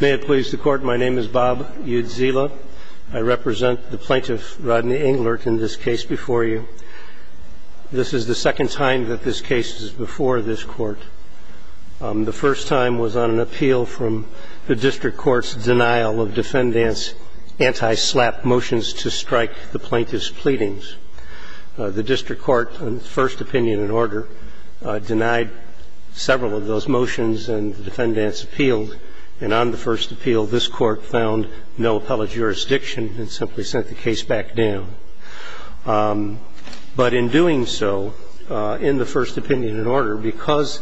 May it please the Court, my name is Bob Udzila. I represent the plaintiff, Rodney Englert, in this case before you. This is the second time that this case is before this Court. The first time was on an appeal from the district court's denial of defendant's anti-SLAPP motions to strike the plaintiff's pleadings. The district court, in its first opinion and order, denied several of those motions and the defendants appealed. And on the first appeal, this Court found no appellate jurisdiction and simply sent the case back down. But in doing so, in the first opinion and order, because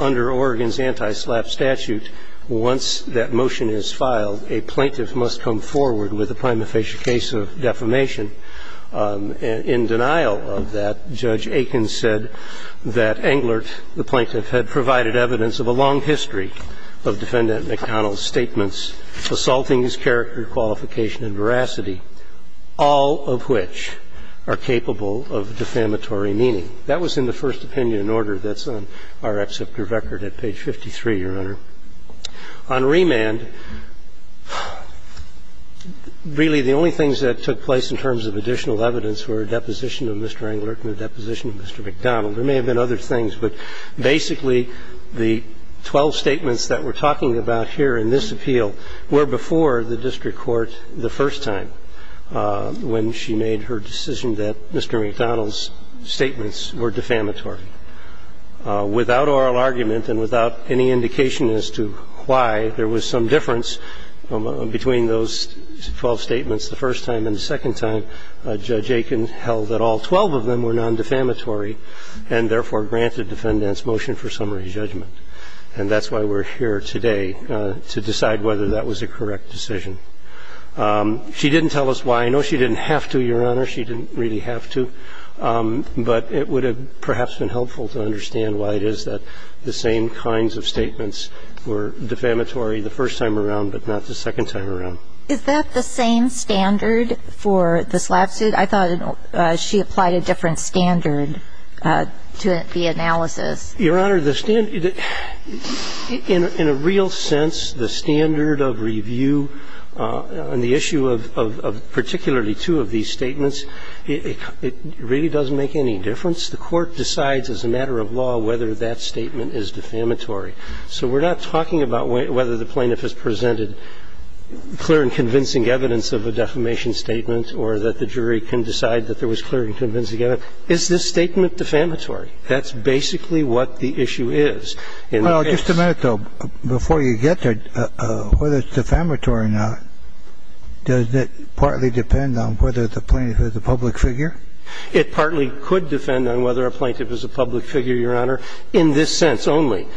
under Oregon's anti-SLAPP statute, once that motion is filed, a plaintiff must come forward with a prima facie case of defamation. In denial of that, Judge Aiken said that Englert, the plaintiff, had provided evidence of a long history of Defendant MacDonnell's statements assaulting his character, qualification, and veracity, all of which are capable of defamatory meaning. That was in the first opinion and order that's on our exceptor record at page 53, Your Honor. On remand, really the only things that took place in terms of additional evidence were a deposition of Mr. Englert and a deposition of Mr. MacDonnell. There may have been other things, but basically the 12 statements that we're talking about here in this appeal were before the district court the first time when she made her decision that Mr. MacDonnell's statements were defamatory. Without oral argument and without any indication as to why, there was some difference between those 12 statements the first time. And the second time, Judge Aiken held that all 12 of them were nondefamatory and therefore granted Defendant's motion for summary judgment. And that's why we're here today to decide whether that was a correct decision. She didn't tell us why. I know she didn't have to, Your Honor. She didn't really have to, but it would have perhaps been helpful to understand why it is that the same kinds of statements were defamatory the first time around but not the second time around. Is that the same standard for the slap suit? I thought she applied a different standard to the analysis. Your Honor, in a real sense, the standard of review on the issue of particularly two of these statements, it really doesn't make any difference. The court decides as a matter of law whether that statement is defamatory. So we're not talking about whether the plaintiff has presented clear and convincing evidence of a defamation statement or that the jury can decide that there was clear and convincing evidence. evidence of a defamation statement. Is this statement defamatory? That's basically what the issue is. Well, just a minute, though. Before you get there, whether it's defamatory or not, does it partly depend on whether the plaintiff is a public figure? It partly could depend on whether a plaintiff is a public figure, Your Honor, in this And then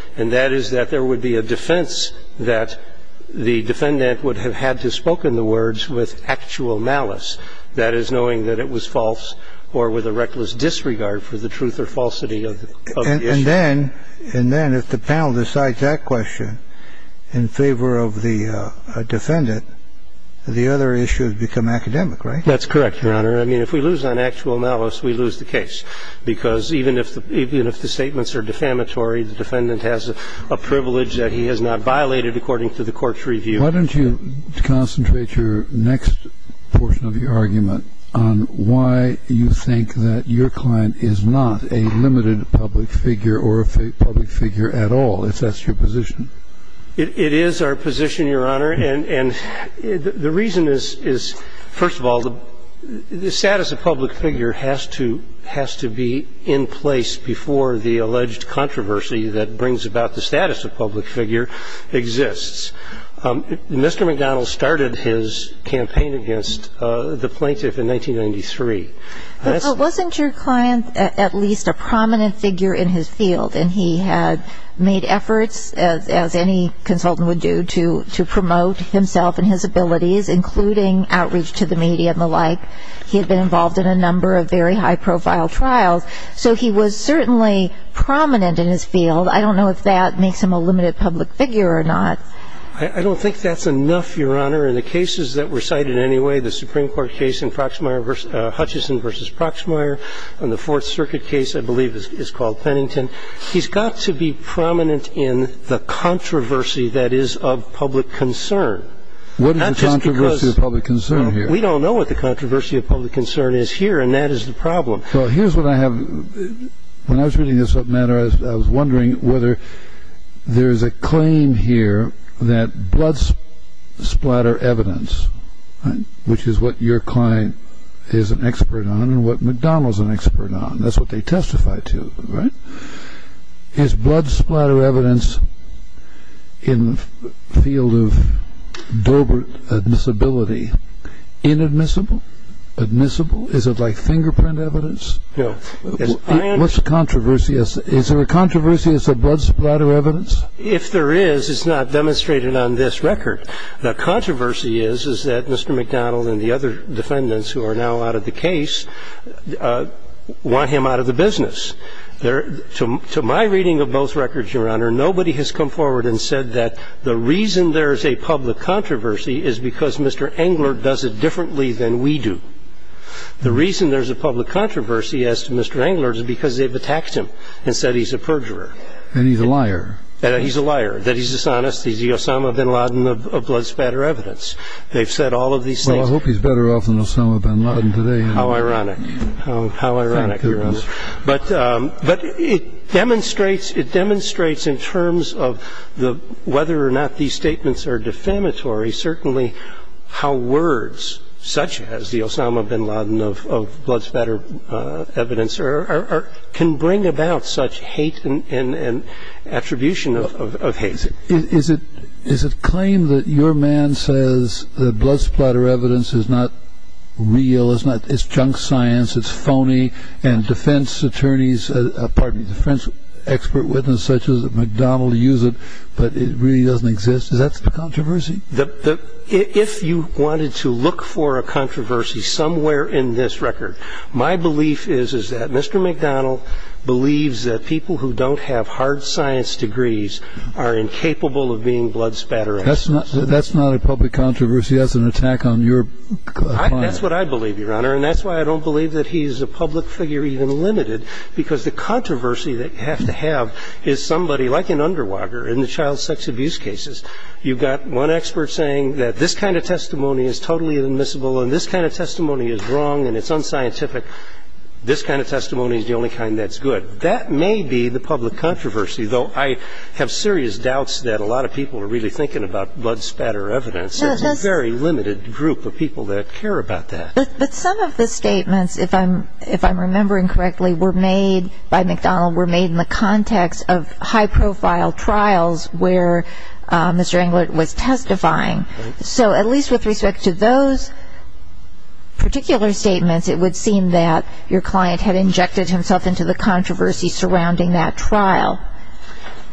if the panel decides that question in favor of the defendant, the other issues become academic, right? That's correct, Your Honor. I mean, if we lose on actual analysis, we lose the case because even if the statements are defamatory, the defendant has a privilege that he has not violated according to the court's review. Why don't you concentrate your next portion of your argument on why you think that you client is not a limited public figure or a public figure at all, if that's your position? It is our position, Your Honor, and the reason is, first of all, the status of public figure has to be in place before the alleged controversy that brings about the status of public figure exists. Mr. McDonnell started his campaign against the plaintiff in 1993. But wasn't your client at least a prominent figure in his field? And he had made efforts, as any consultant would do, to promote himself and his abilities, including outreach to the media and the like. He had been involved in a number of very high-profile trials. So he was certainly prominent in his field. I don't know if that makes him a limited public figure or not. I don't think that's enough, Your Honor. In the cases that were cited anyway, the Supreme Court case in Hutchison v. Proxmire and the Fourth Circuit case I believe is called Pennington, he's got to be prominent in the controversy that is of public concern. What is the controversy of public concern here? We don't know what the controversy of public concern is here, and that is the problem. Well, here's what I have. When I was reading this matter, I was wondering whether there is a claim here that blood splatter evidence, which is what your client is an expert on and what McDonnell is an expert on, that's what they testify to, right? Is blood splatter evidence in the field of Dobert admissibility inadmissible? Admissible? Is it like fingerprint evidence? No. What's the controversy? Is there a controversy as to blood splatter evidence? If there is, it's not demonstrated on this record. The controversy is, is that Mr. McDonnell and the other defendants who are now out of the case want him out of the business. To my reading of both records, Your Honor, nobody has come forward and said that the reason there is a public controversy is because Mr. Englert does it differently than we do. The reason there's a public controversy as to Mr. Englert is because they've attacked him and said he's a perjurer. And he's a liar. He's a liar, that he's dishonest, he's the Osama bin Laden of blood splatter evidence. They've said all of these things. Well, I hope he's better off than Osama bin Laden today. How ironic. How ironic, Your Honor. But it demonstrates in terms of whether or not these statements are defamatory, certainly how words such as the Osama bin Laden of blood splatter evidence can bring about such hate and attribution of hate. Is it claim that your man says the blood splatter evidence is not real, it's junk science, it's phony, and defense attorneys, pardon me, defense expert witnesses such as McDonnell use it, but it really doesn't exist? Is that the controversy? If you wanted to look for a controversy somewhere in this record, my belief is that Mr. McDonnell believes that people who don't have hard science degrees are incapable of being blood splatter experts. That's not a public controversy. That's an attack on your client. That's what I believe, Your Honor. And that's why I don't believe that he's a public figure even limited, because the controversy that you have to have is somebody like an underwager in the child sex abuse cases. You've got one expert saying that this kind of testimony is totally admissible and this kind of testimony is wrong and it's unscientific. This kind of testimony is the only kind that's good. That may be the public controversy, though I have serious doubts that a lot of people are really thinking about blood splatter evidence. There's a very limited group of people that care about that. But some of the statements, if I'm remembering correctly, were made by McDonnell, were made in the context of high-profile trials where Mr. Englert was testifying. So at least with respect to those particular statements, it would seem that your client had injected himself into the controversy surrounding that trial.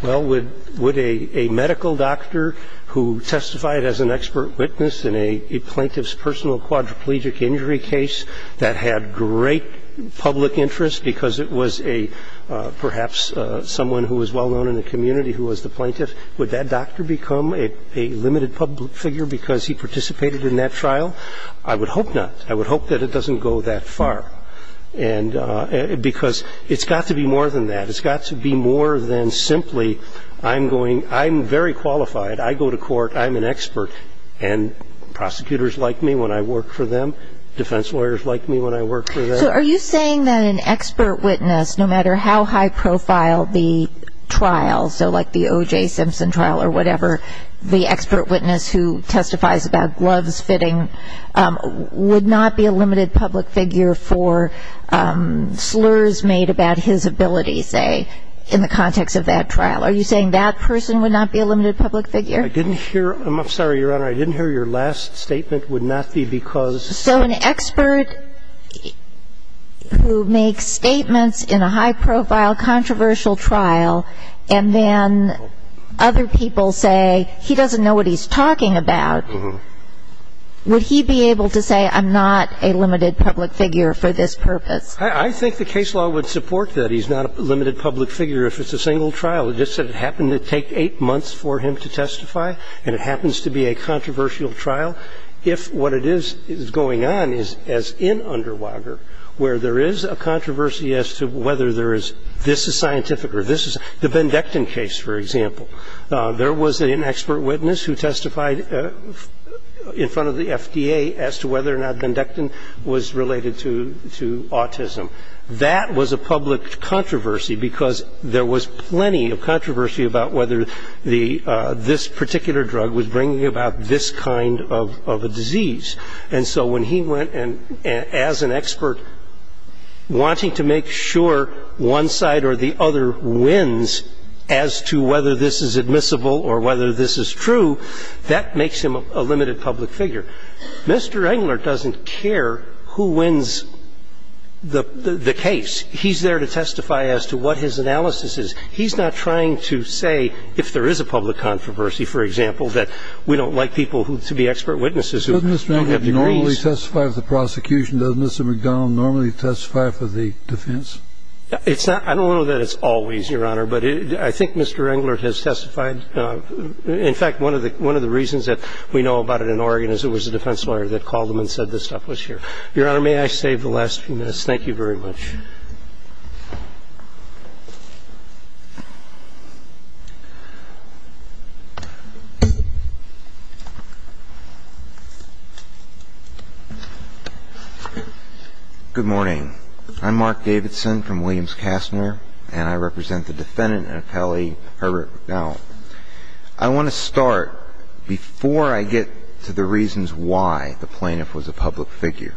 Well, would a medical doctor who testified as an expert witness in a plaintiff's personal quadriplegic injury case that had great public interest because it was a perhaps someone who was well-known in the community who was the plaintiff, would that doctor become a limited public figure because he participated in that trial? I would hope not. I would hope that it doesn't go that far. And because it's got to be more than that. It's got to be more than simply I'm going – I'm very qualified. I go to court. I'm an expert. And prosecutors like me when I work for them. Defense lawyers like me when I work for them. So are you saying that an expert witness, no matter how high-profile the trial, so like the O.J. Simpson trial or whatever, the expert witness who testifies about gloves fitting would not be a limited public figure for slurs made about his ability, say, in the context of that trial? Are you saying that person would not be a limited public figure? I didn't hear – I'm sorry, Your Honor. I didn't hear your last statement, would not be because – So an expert who makes statements in a high-profile, controversial trial and then other people say he doesn't know what he's talking about, would he be able to say I'm not a limited public figure for this purpose? I think the case law would support that he's not a limited public figure if it's a single trial. It just so happened to take eight months for him to testify, and it happens to be a controversial trial. If what it is going on is as in Underwager, where there is a controversy as to whether there is – this is scientific or this is – the Bendectin case, for example, there was an expert witness who testified in front of the FDA as to whether or not Bendectin was related to autism. That was a public controversy because there was plenty of controversy about whether this particular drug was bringing about this kind of a disease. And so when he went as an expert wanting to make sure one side or the other wins as to whether this is admissible or whether this is true, that makes him a limited public figure. Mr. Engler doesn't care who wins the case. He's there to testify as to what his analysis is. He's not trying to say if there is a public controversy, for example, that we don't like people to be expert witnesses who have degrees. Doesn't Mr. Engler normally testify for the prosecution? Doesn't Mr. McDonald normally testify for the defense? I don't know that it's always, Your Honor, but I think Mr. Engler has testified. In fact, one of the reasons that we know about it in Oregon is it was a defense lawyer that called him and said this stuff was here. Your Honor, may I save the last few minutes? Thank you very much. Good morning. I'm Mark Davidson from Williams-Castner, and I represent the defendant in appellee Herbert McDowell. I want to start, before I get to the reasons why the plaintiff was a public figure,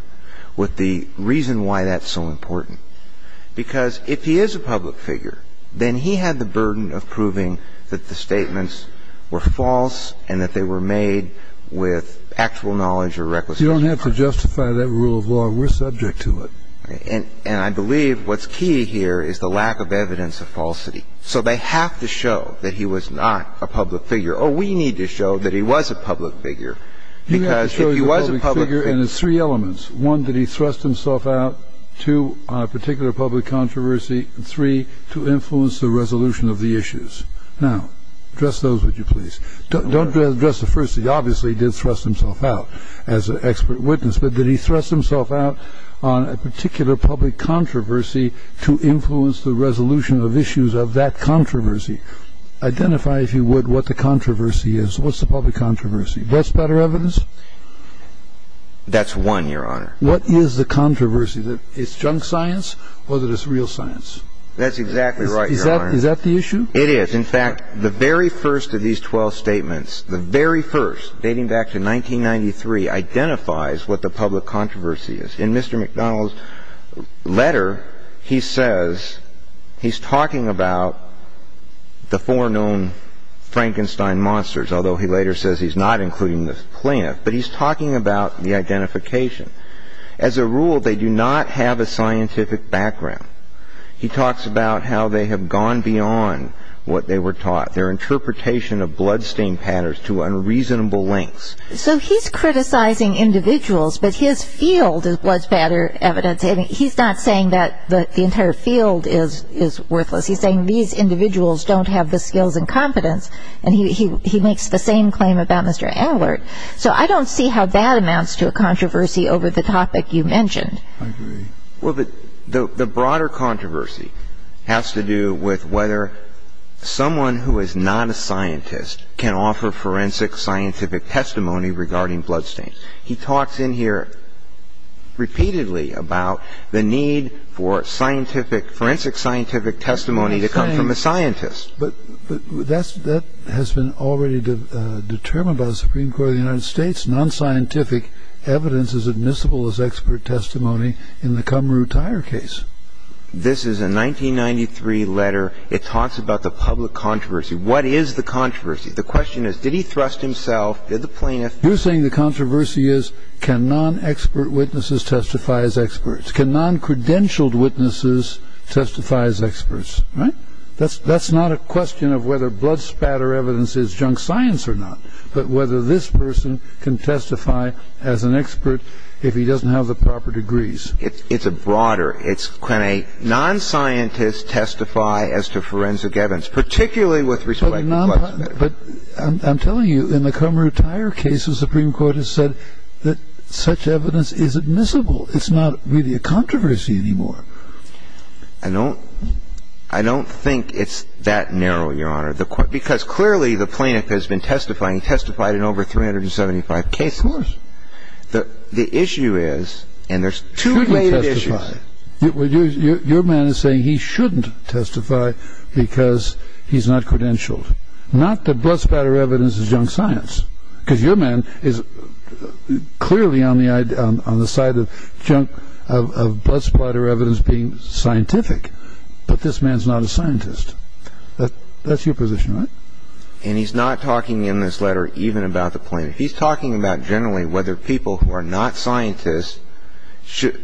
with the reason why that's so important. The reason why the plaintiff was a public figure is because he had the burden of proving that the statements were false and that they were made with actual knowledge or recklessness. You don't have to justify that rule of law. We're subject to it. And I believe what's key here is the lack of evidence of falsity. So they have to show that he was not a public figure. Or we need to show that he was a public figure, because if he was a public figure and it's three elements. One, that he thrust himself out. Two, on a particular public controversy. And three, to influence the resolution of the issues. Now, address those, would you please? Don't address the first. He obviously did thrust himself out as an expert witness. But did he thrust himself out on a particular public controversy to influence the resolution of issues of that controversy? Identify, if you would, what the controversy is. What's the public controversy? What's better evidence? That's one, Your Honor. What is the controversy? Is it junk science or is it real science? That's exactly right, Your Honor. Is that the issue? It is. In fact, the very first of these 12 statements, the very first, dating back to 1993, identifies what the public controversy is. In Mr. McDonald's letter, he says he's talking about the four known Frankenstein monsters, although he later says he's not including the plant, but he's talking about the identification. As a rule, they do not have a scientific background. He talks about how they have gone beyond what they were taught, their interpretation of bloodstain patterns to unreasonable lengths. So he's criticizing individuals, but his field is bloodstain evidence. He's not saying that the entire field is worthless. He's saying these individuals don't have the skills and confidence, and he makes the same claim about Mr. Allert. So I don't see how that amounts to a controversy over the topic you mentioned. I agree. Well, the broader controversy has to do with whether someone who is not a scientist can offer forensic scientific testimony regarding bloodstains. He talks in here repeatedly about the need for forensic scientific testimony to come from a scientist. But that has been already determined by the Supreme Court of the United States. Non-scientific evidence is admissible as expert testimony in the Kumru Tire case. This is a 1993 letter. It talks about the public controversy. What is the controversy? The question is, did he thrust himself? Did the plaintiff? You're saying the controversy is, can non-expert witnesses testify as experts? Can non-credentialed witnesses testify as experts? Right? That's not a question of whether blood spatter evidence is junk science or not, but whether this person can testify as an expert if he doesn't have the proper degrees. It's broader. Can a non-scientist testify as to forensic evidence, particularly with respect to blood spatter? But I'm telling you, in the Kumru Tire case, the Supreme Court has said that such evidence is admissible. It's not really a controversy anymore. I don't think it's that narrow, Your Honor, because clearly the plaintiff has been testifying, testified in over 375 cases. Of course. The issue is, and there's two main issues. Your man is saying he shouldn't testify because he's not credentialed. Not that blood spatter evidence is junk science, because your man is clearly on the side of blood splatter evidence being scientific, but this man's not a scientist. That's your position, right? And he's not talking in this letter even about the plaintiff. He's talking about generally whether people who are not scientists should...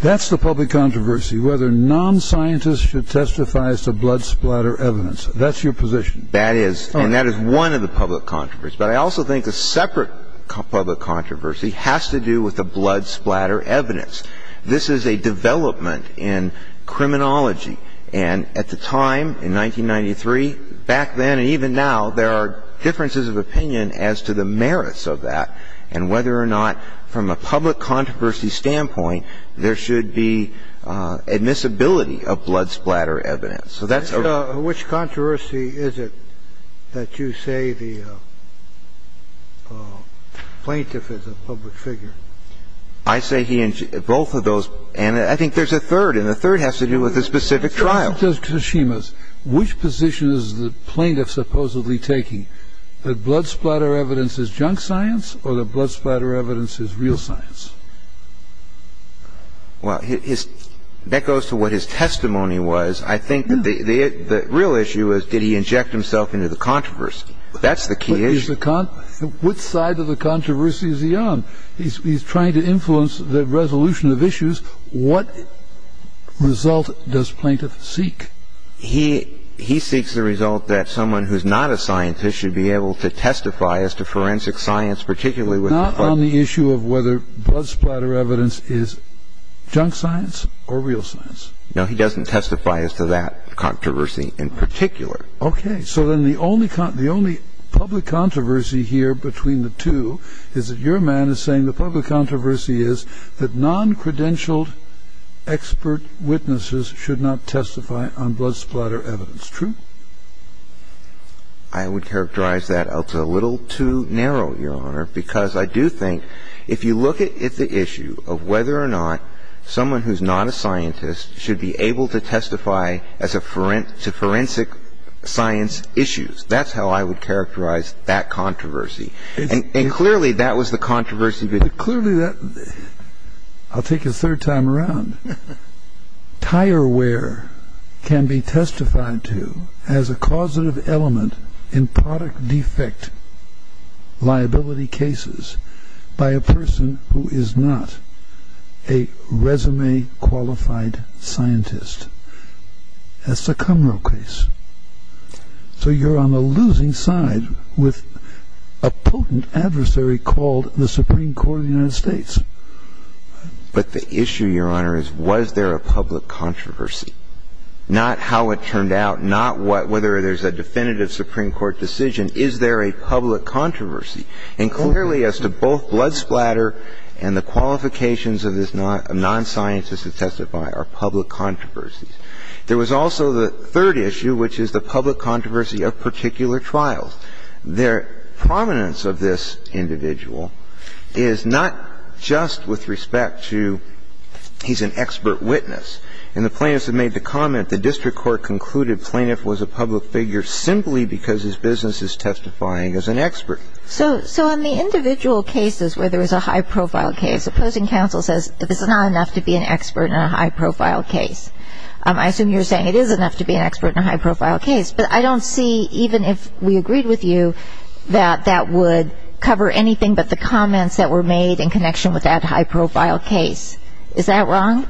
That's the public controversy, whether non-scientists should testify as to blood splatter evidence. That's your position. That is, and that is one of the public controversies. But I also think a separate public controversy has to do with the blood splatter evidence. This is a development in criminology. And at the time, in 1993, back then and even now, there are differences of opinion as to the merits of that and whether or not from a public controversy standpoint there should be admissibility of blood splatter evidence. Which controversy is it that you say the plaintiff is a public figure? I say he and she, both of those. And I think there's a third, and the third has to do with the specific trial. Which position is the plaintiff supposedly taking, that blood splatter evidence is junk science or that blood splatter evidence is real science? Well, that goes to what his testimony was. I think the real issue is did he inject himself into the controversy? That's the key issue. What side of the controversy is he on? He's trying to influence the resolution of issues. What result does plaintiff seek? He seeks the result that someone who's not a scientist should be able to testify as to forensic science, particularly with the fact that Not on the issue of whether blood splatter evidence is junk science or real science. No, he doesn't testify as to that controversy in particular. Okay. So then the only public controversy here between the two is that your man is saying the public controversy is that noncredentialed expert witnesses should not testify on blood splatter evidence. True? I would characterize that as a little too narrow, Your Honor, because I do think if you look at the issue of whether or not someone who's not a scientist should be able to testify as to forensic science issues. That's how I would characterize that controversy. And clearly that was the controversy. Clearly, I'll take a third time around. Tire wear can be testified to as a causative element in product defect liability cases by a person who is not a resume-qualified scientist. That's the Kumro case. So you're on the losing side with a potent adversary called the Supreme Court of the United States. But the issue, Your Honor, is was there a public controversy? Not how it turned out, not whether there's a definitive Supreme Court decision. Is there a public controversy? And clearly as to both blood splatter and the qualifications of this non-scientist to testify are public controversies. There was also the third issue, which is the public controversy of particular trials. The prominence of this individual is not just with respect to he's an expert witness. In the plaintiffs that made the comment, the district court concluded plaintiff was a public figure simply because his business is testifying as an expert. So in the individual cases where there is a high-profile case, opposing counsel says that this is not enough to be an expert in a high-profile case. I assume you're saying it is enough to be an expert in a high-profile case. But I don't see, even if we agreed with you, that that would cover anything but the comments that were made in connection with that high-profile case. Is that wrong?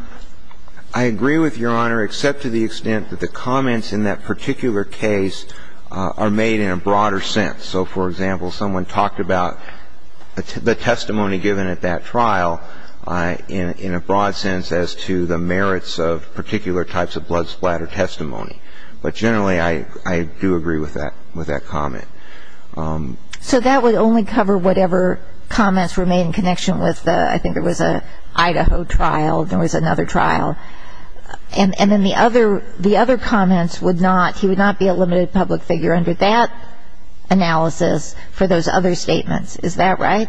I agree with Your Honor, except to the extent that the comments in that particular case are made in a broader sense. So, for example, someone talked about the testimony given at that trial in a broad sense as to the merits of particular types of blood splatter testimony. But generally, I do agree with that comment. So that would only cover whatever comments were made in connection with the, I think it was an Idaho trial, there was another trial. And then the other comments would not, he would not be a limited public figure under that analysis for those other statements. Is that right?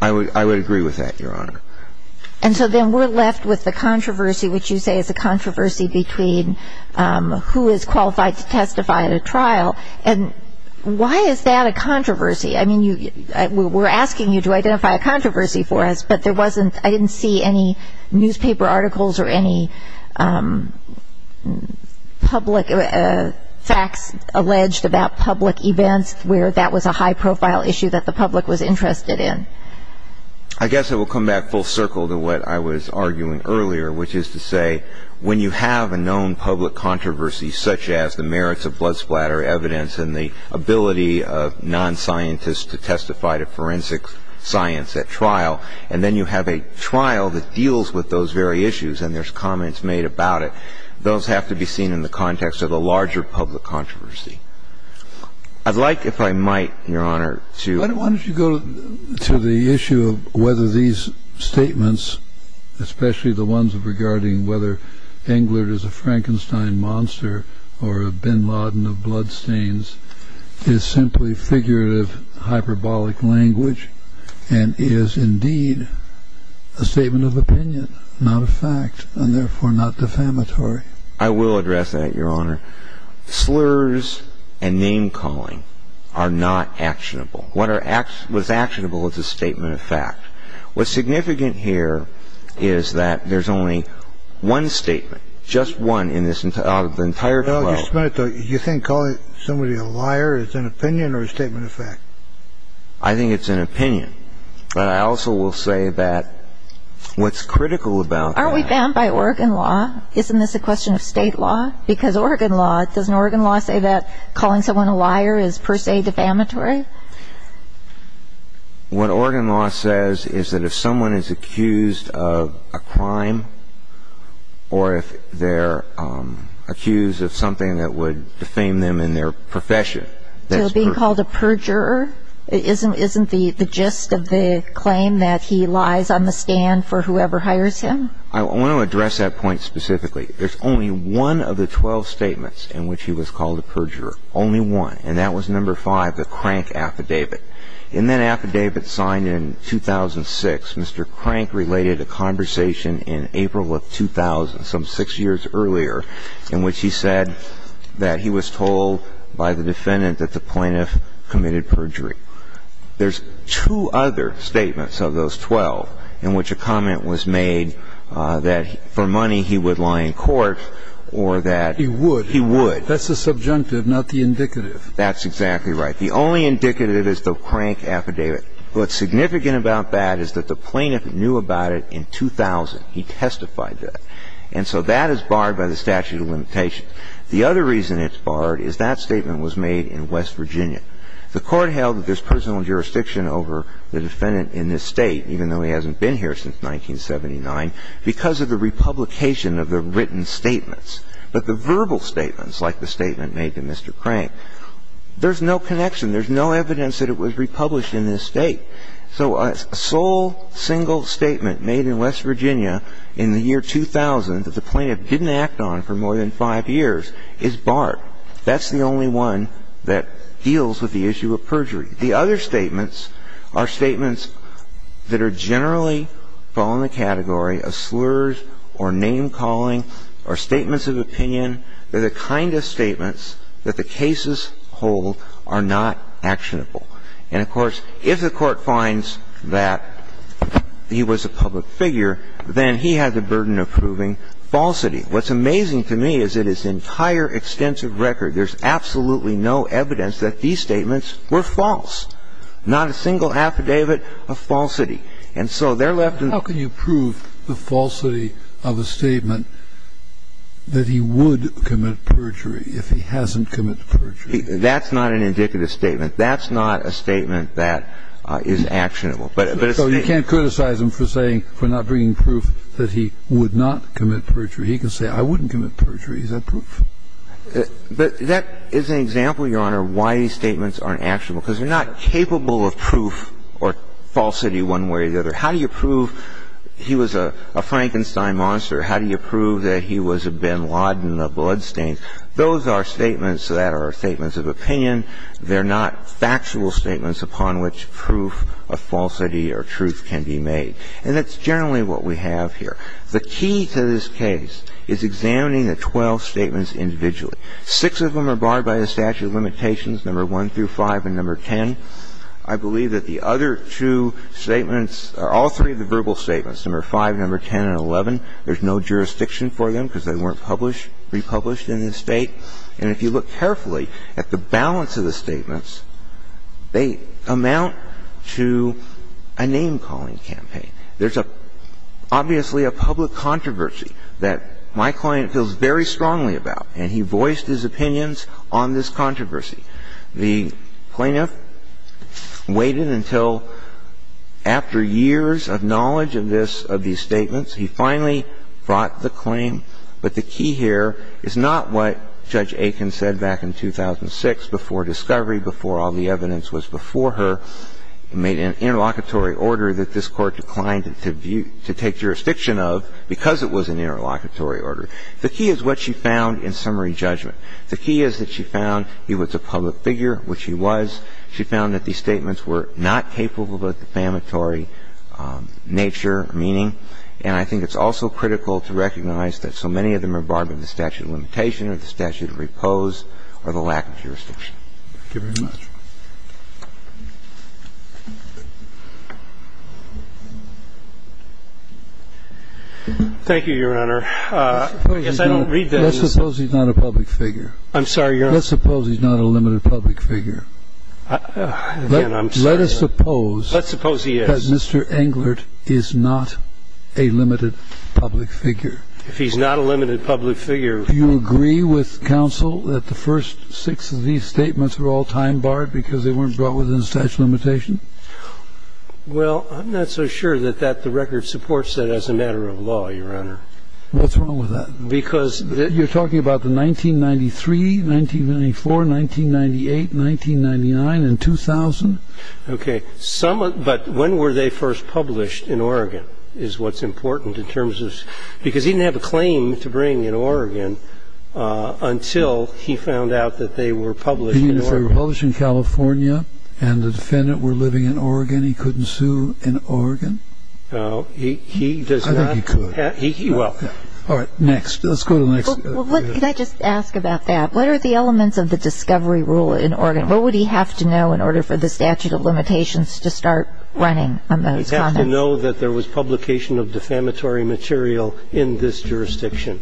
I would agree with that, Your Honor. And so then we're left with the controversy, which you say is a controversy between who is qualified to testify at a trial. And why is that a controversy? I mean, we're asking you to identify a controversy for us, but there wasn't I didn't see any newspaper articles or any public facts alleged about public events where that was a high-profile issue that the public was interested in. I guess it will come back full circle to what I was arguing earlier, which is to say when you have a known public controversy, such as the merits of blood splatter evidence and the ability of non-scientists to testify to forensic science at trial, and then you have a trial that deals with those very issues and there's comments made about it, those have to be seen in the context of the larger public controversy. I'd like, if I might, Your Honor, to Why don't you go to the issue of whether these statements, especially the ones regarding whether Englert is a Frankenstein monster or Bin Laden of bloodstains, is simply figurative hyperbolic language and is indeed a statement of opinion, not a fact, and therefore not defamatory. I will address that, Your Honor. Slurs and name-calling are not actionable. What's actionable is a statement of fact. What's significant here is that there's only one statement, just one in this entire flow. You think calling somebody a liar is an opinion or a statement of fact? I think it's an opinion. But I also will say that what's critical about Aren't we banned by Oregon law? Isn't this a question of state law? Because Oregon law, doesn't Oregon law say that calling someone a liar is per se defamatory? What Oregon law says is that if someone is accused of a crime or if they're accused of something that would defame them in their profession So being called a perjurer isn't the gist of the claim that he lies on the stand for whoever hires him? I want to address that point specifically. There's only one of the 12 statements in which he was called a perjurer. Only one. And that was number five, the Crank Affidavit. In that affidavit signed in 2006, Mr. Crank related a conversation in April of 2000, some six years earlier, in which he said that he was told by the defendant that the plaintiff committed perjury. There's two other statements of those 12 in which a comment was made that for money he would lie in court or that He would. He would. That's the subjunctive, not the indicative. That's exactly right. The only indicative is the Crank Affidavit. What's significant about that is that the plaintiff knew about it in 2000. He testified that. And so that is barred by the statute of limitations. The other reason it's barred is that statement was made in West Virginia. The Court held that there's personal jurisdiction over the defendant in this State, even though he hasn't been here since 1979, because of the republication of the written statements. But the verbal statements, like the statement made to Mr. Crank, there's no connection. There's no evidence that it was republished in this State. So a sole single statement made in West Virginia in the year 2000 that the plaintiff didn't act on for more than five years is barred. That's the only one that deals with the issue of perjury. The other statements are statements that are generally fall in the category of slurs or name-calling or statements of opinion. They're the kind of statements that the cases hold are not actionable. And, of course, if the Court finds that he was a public figure, then he has the burden of proving falsity. What's amazing to me is that his entire extensive record, there's absolutely no evidence that these statements were false. Not a single affidavit of falsity. And so they're left in the room. Kennedy. How can you prove the falsity of a statement that he would commit perjury if he hasn't committed perjury? That's not an indicative statement. That's not a statement that is actionable. But a statement. So you can't criticize him for saying, for not bringing proof that he would not commit perjury. He can say, I wouldn't commit perjury. Is that proof? But that is an example, Your Honor, why these statements aren't actionable. Because they're not capable of proof or falsity one way or the other. How do you prove he was a Frankenstein monster? How do you prove that he was a bin Laden of bloodstains? Those are statements that are statements of opinion. They're not factual statements upon which proof of falsity or truth can be made. And that's generally what we have here. The key to this case is examining the 12 statements individually. Six of them are barred by the statute of limitations, number 1 through 5 and number 10. I believe that the other two statements are all three of the verbal statements, number 5, number 10, and 11. There's no jurisdiction for them because they weren't published, republished in the State. And if you look carefully at the balance of the statements, they amount to a name-calling campaign. There's obviously a public controversy that my client feels very strongly about, and he voiced his opinions on this controversy. The plaintiff waited until after years of knowledge of this, of these statements, he finally brought the claim. But the key here is not what Judge Aiken said back in 2006 before discovery, before all the evidence was before her. The key is what she found in summary judgment. The key is that she found he was a public figure, which he was. She found that these statements were not capable of a defamatory nature, meaning. And I think it's also critical to recognize that so many of them are barred by the statute of limitation or the statute of repose or the lack of jurisdiction. Thank you very much. Thank you, Your Honor. Yes, I don't read that. Let's suppose he's not a public figure. I'm sorry, Your Honor. Let's suppose he's not a limited public figure. Again, I'm sorry, Your Honor. Let us suppose. Let's suppose he is. That Mr. Englert is not a limited public figure. If he's not a limited public figure. Do you agree with counsel that the first six of these statements were all time barred because they weren't brought within the statute of limitation? Well, I'm not so sure that that the record supports that as a matter of law, Your Honor. What's wrong with that? Because. You're talking about the 1993, 1994, 1998, 1999, and 2000. Okay. Some of. But when were they first published in Oregon is what's important in terms of. Because he didn't have a claim to bring in Oregon until he found out that they were published. They were published in California and the defendant were living in Oregon. He couldn't sue in Oregon. No, he does not. I think he could. He will. All right, next. Let's go to the next. Can I just ask about that? What are the elements of the discovery rule in Oregon? What would he have to know in order for the statute of limitations to start running on those contents? I don't know that there was publication of defamatory material in this jurisdiction.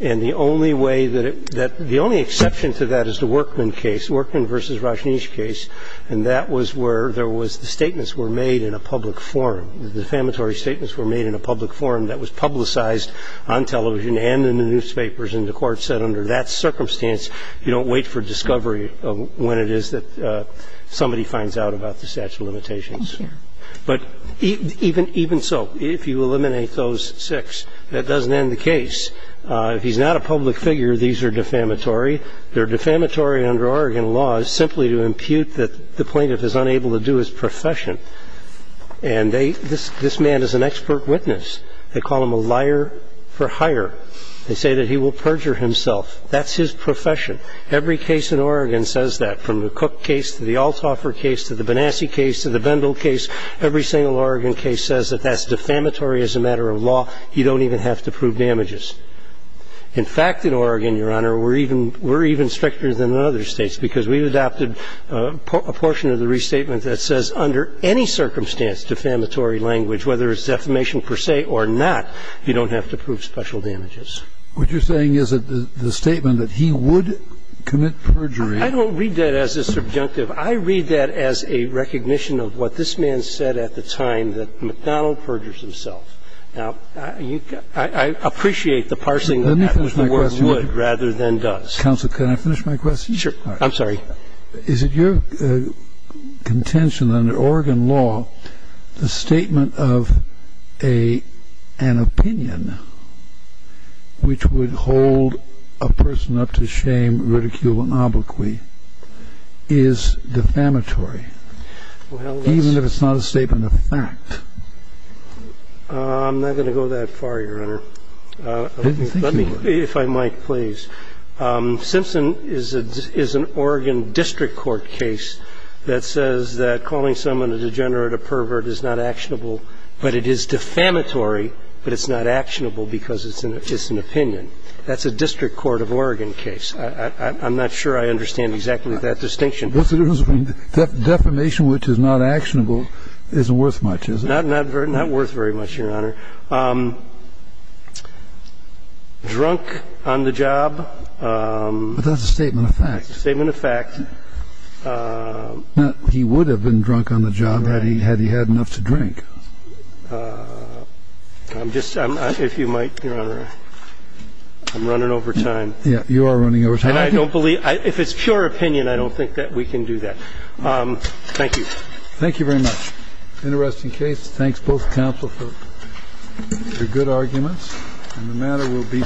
And the only way that it that the only exception to that is the Workman case, Workman v. Rajneesh case. And that was where there was the statements were made in a public forum. The defamatory statements were made in a public forum that was publicized on television and in the newspapers. And the court said under that circumstance, you don't wait for discovery when it is that somebody finds out about the statute of limitations. Thank you. But even so, if you eliminate those six, that doesn't end the case. If he's not a public figure, these are defamatory. They're defamatory under Oregon law simply to impute that the plaintiff is unable to do his profession. And this man is an expert witness. They call him a liar for hire. They say that he will perjure himself. That's his profession. Every case in Oregon says that, from the Cook case to the Althoffer case to the Benassi case to the Bendel case, every single Oregon case says that that's defamatory as a matter of law. You don't even have to prove damages. In fact, in Oregon, Your Honor, we're even stricter than in other states because we've adopted a portion of the restatement that says under any circumstance defamatory language, whether it's defamation per se or not, you don't have to prove special damages. What you're saying is that the statement that he would commit perjury. I don't read that as a subjunctive. I read that as a recognition of what this man said at the time, that McDonald perjures himself. Now, I appreciate the parsing of that with the word would rather than does. Let me finish my question. Counsel, can I finish my question? Sure. I'm sorry. Is it your contention under Oregon law, the statement of an opinion which would hold a person up to shame ridicule and obloquy is defamatory, even if it's not a statement of fact? I'm not going to go that far, Your Honor. Let me, if I might, please. Simpson is an Oregon district court case that says that calling someone a degenerate or pervert is not actionable, but it is defamatory, but it's not actionable because it's an opinion. That's a district court of Oregon case. I'm not sure I understand exactly that distinction. What's the difference between defamation, which is not actionable, isn't worth much, is it? Not worth very much, Your Honor. Drunk on the job. But that's a statement of fact. That's a statement of fact. He would have been drunk on the job had he had enough to drink. I'm just, if you might, Your Honor, I'm running over time. Yeah, you are running over time. And I don't believe, if it's pure opinion, I don't think that we can do that. Thank you. Thank you very much. Interesting case. Thanks, both counsel, for your good arguments. And the matter will be submitted.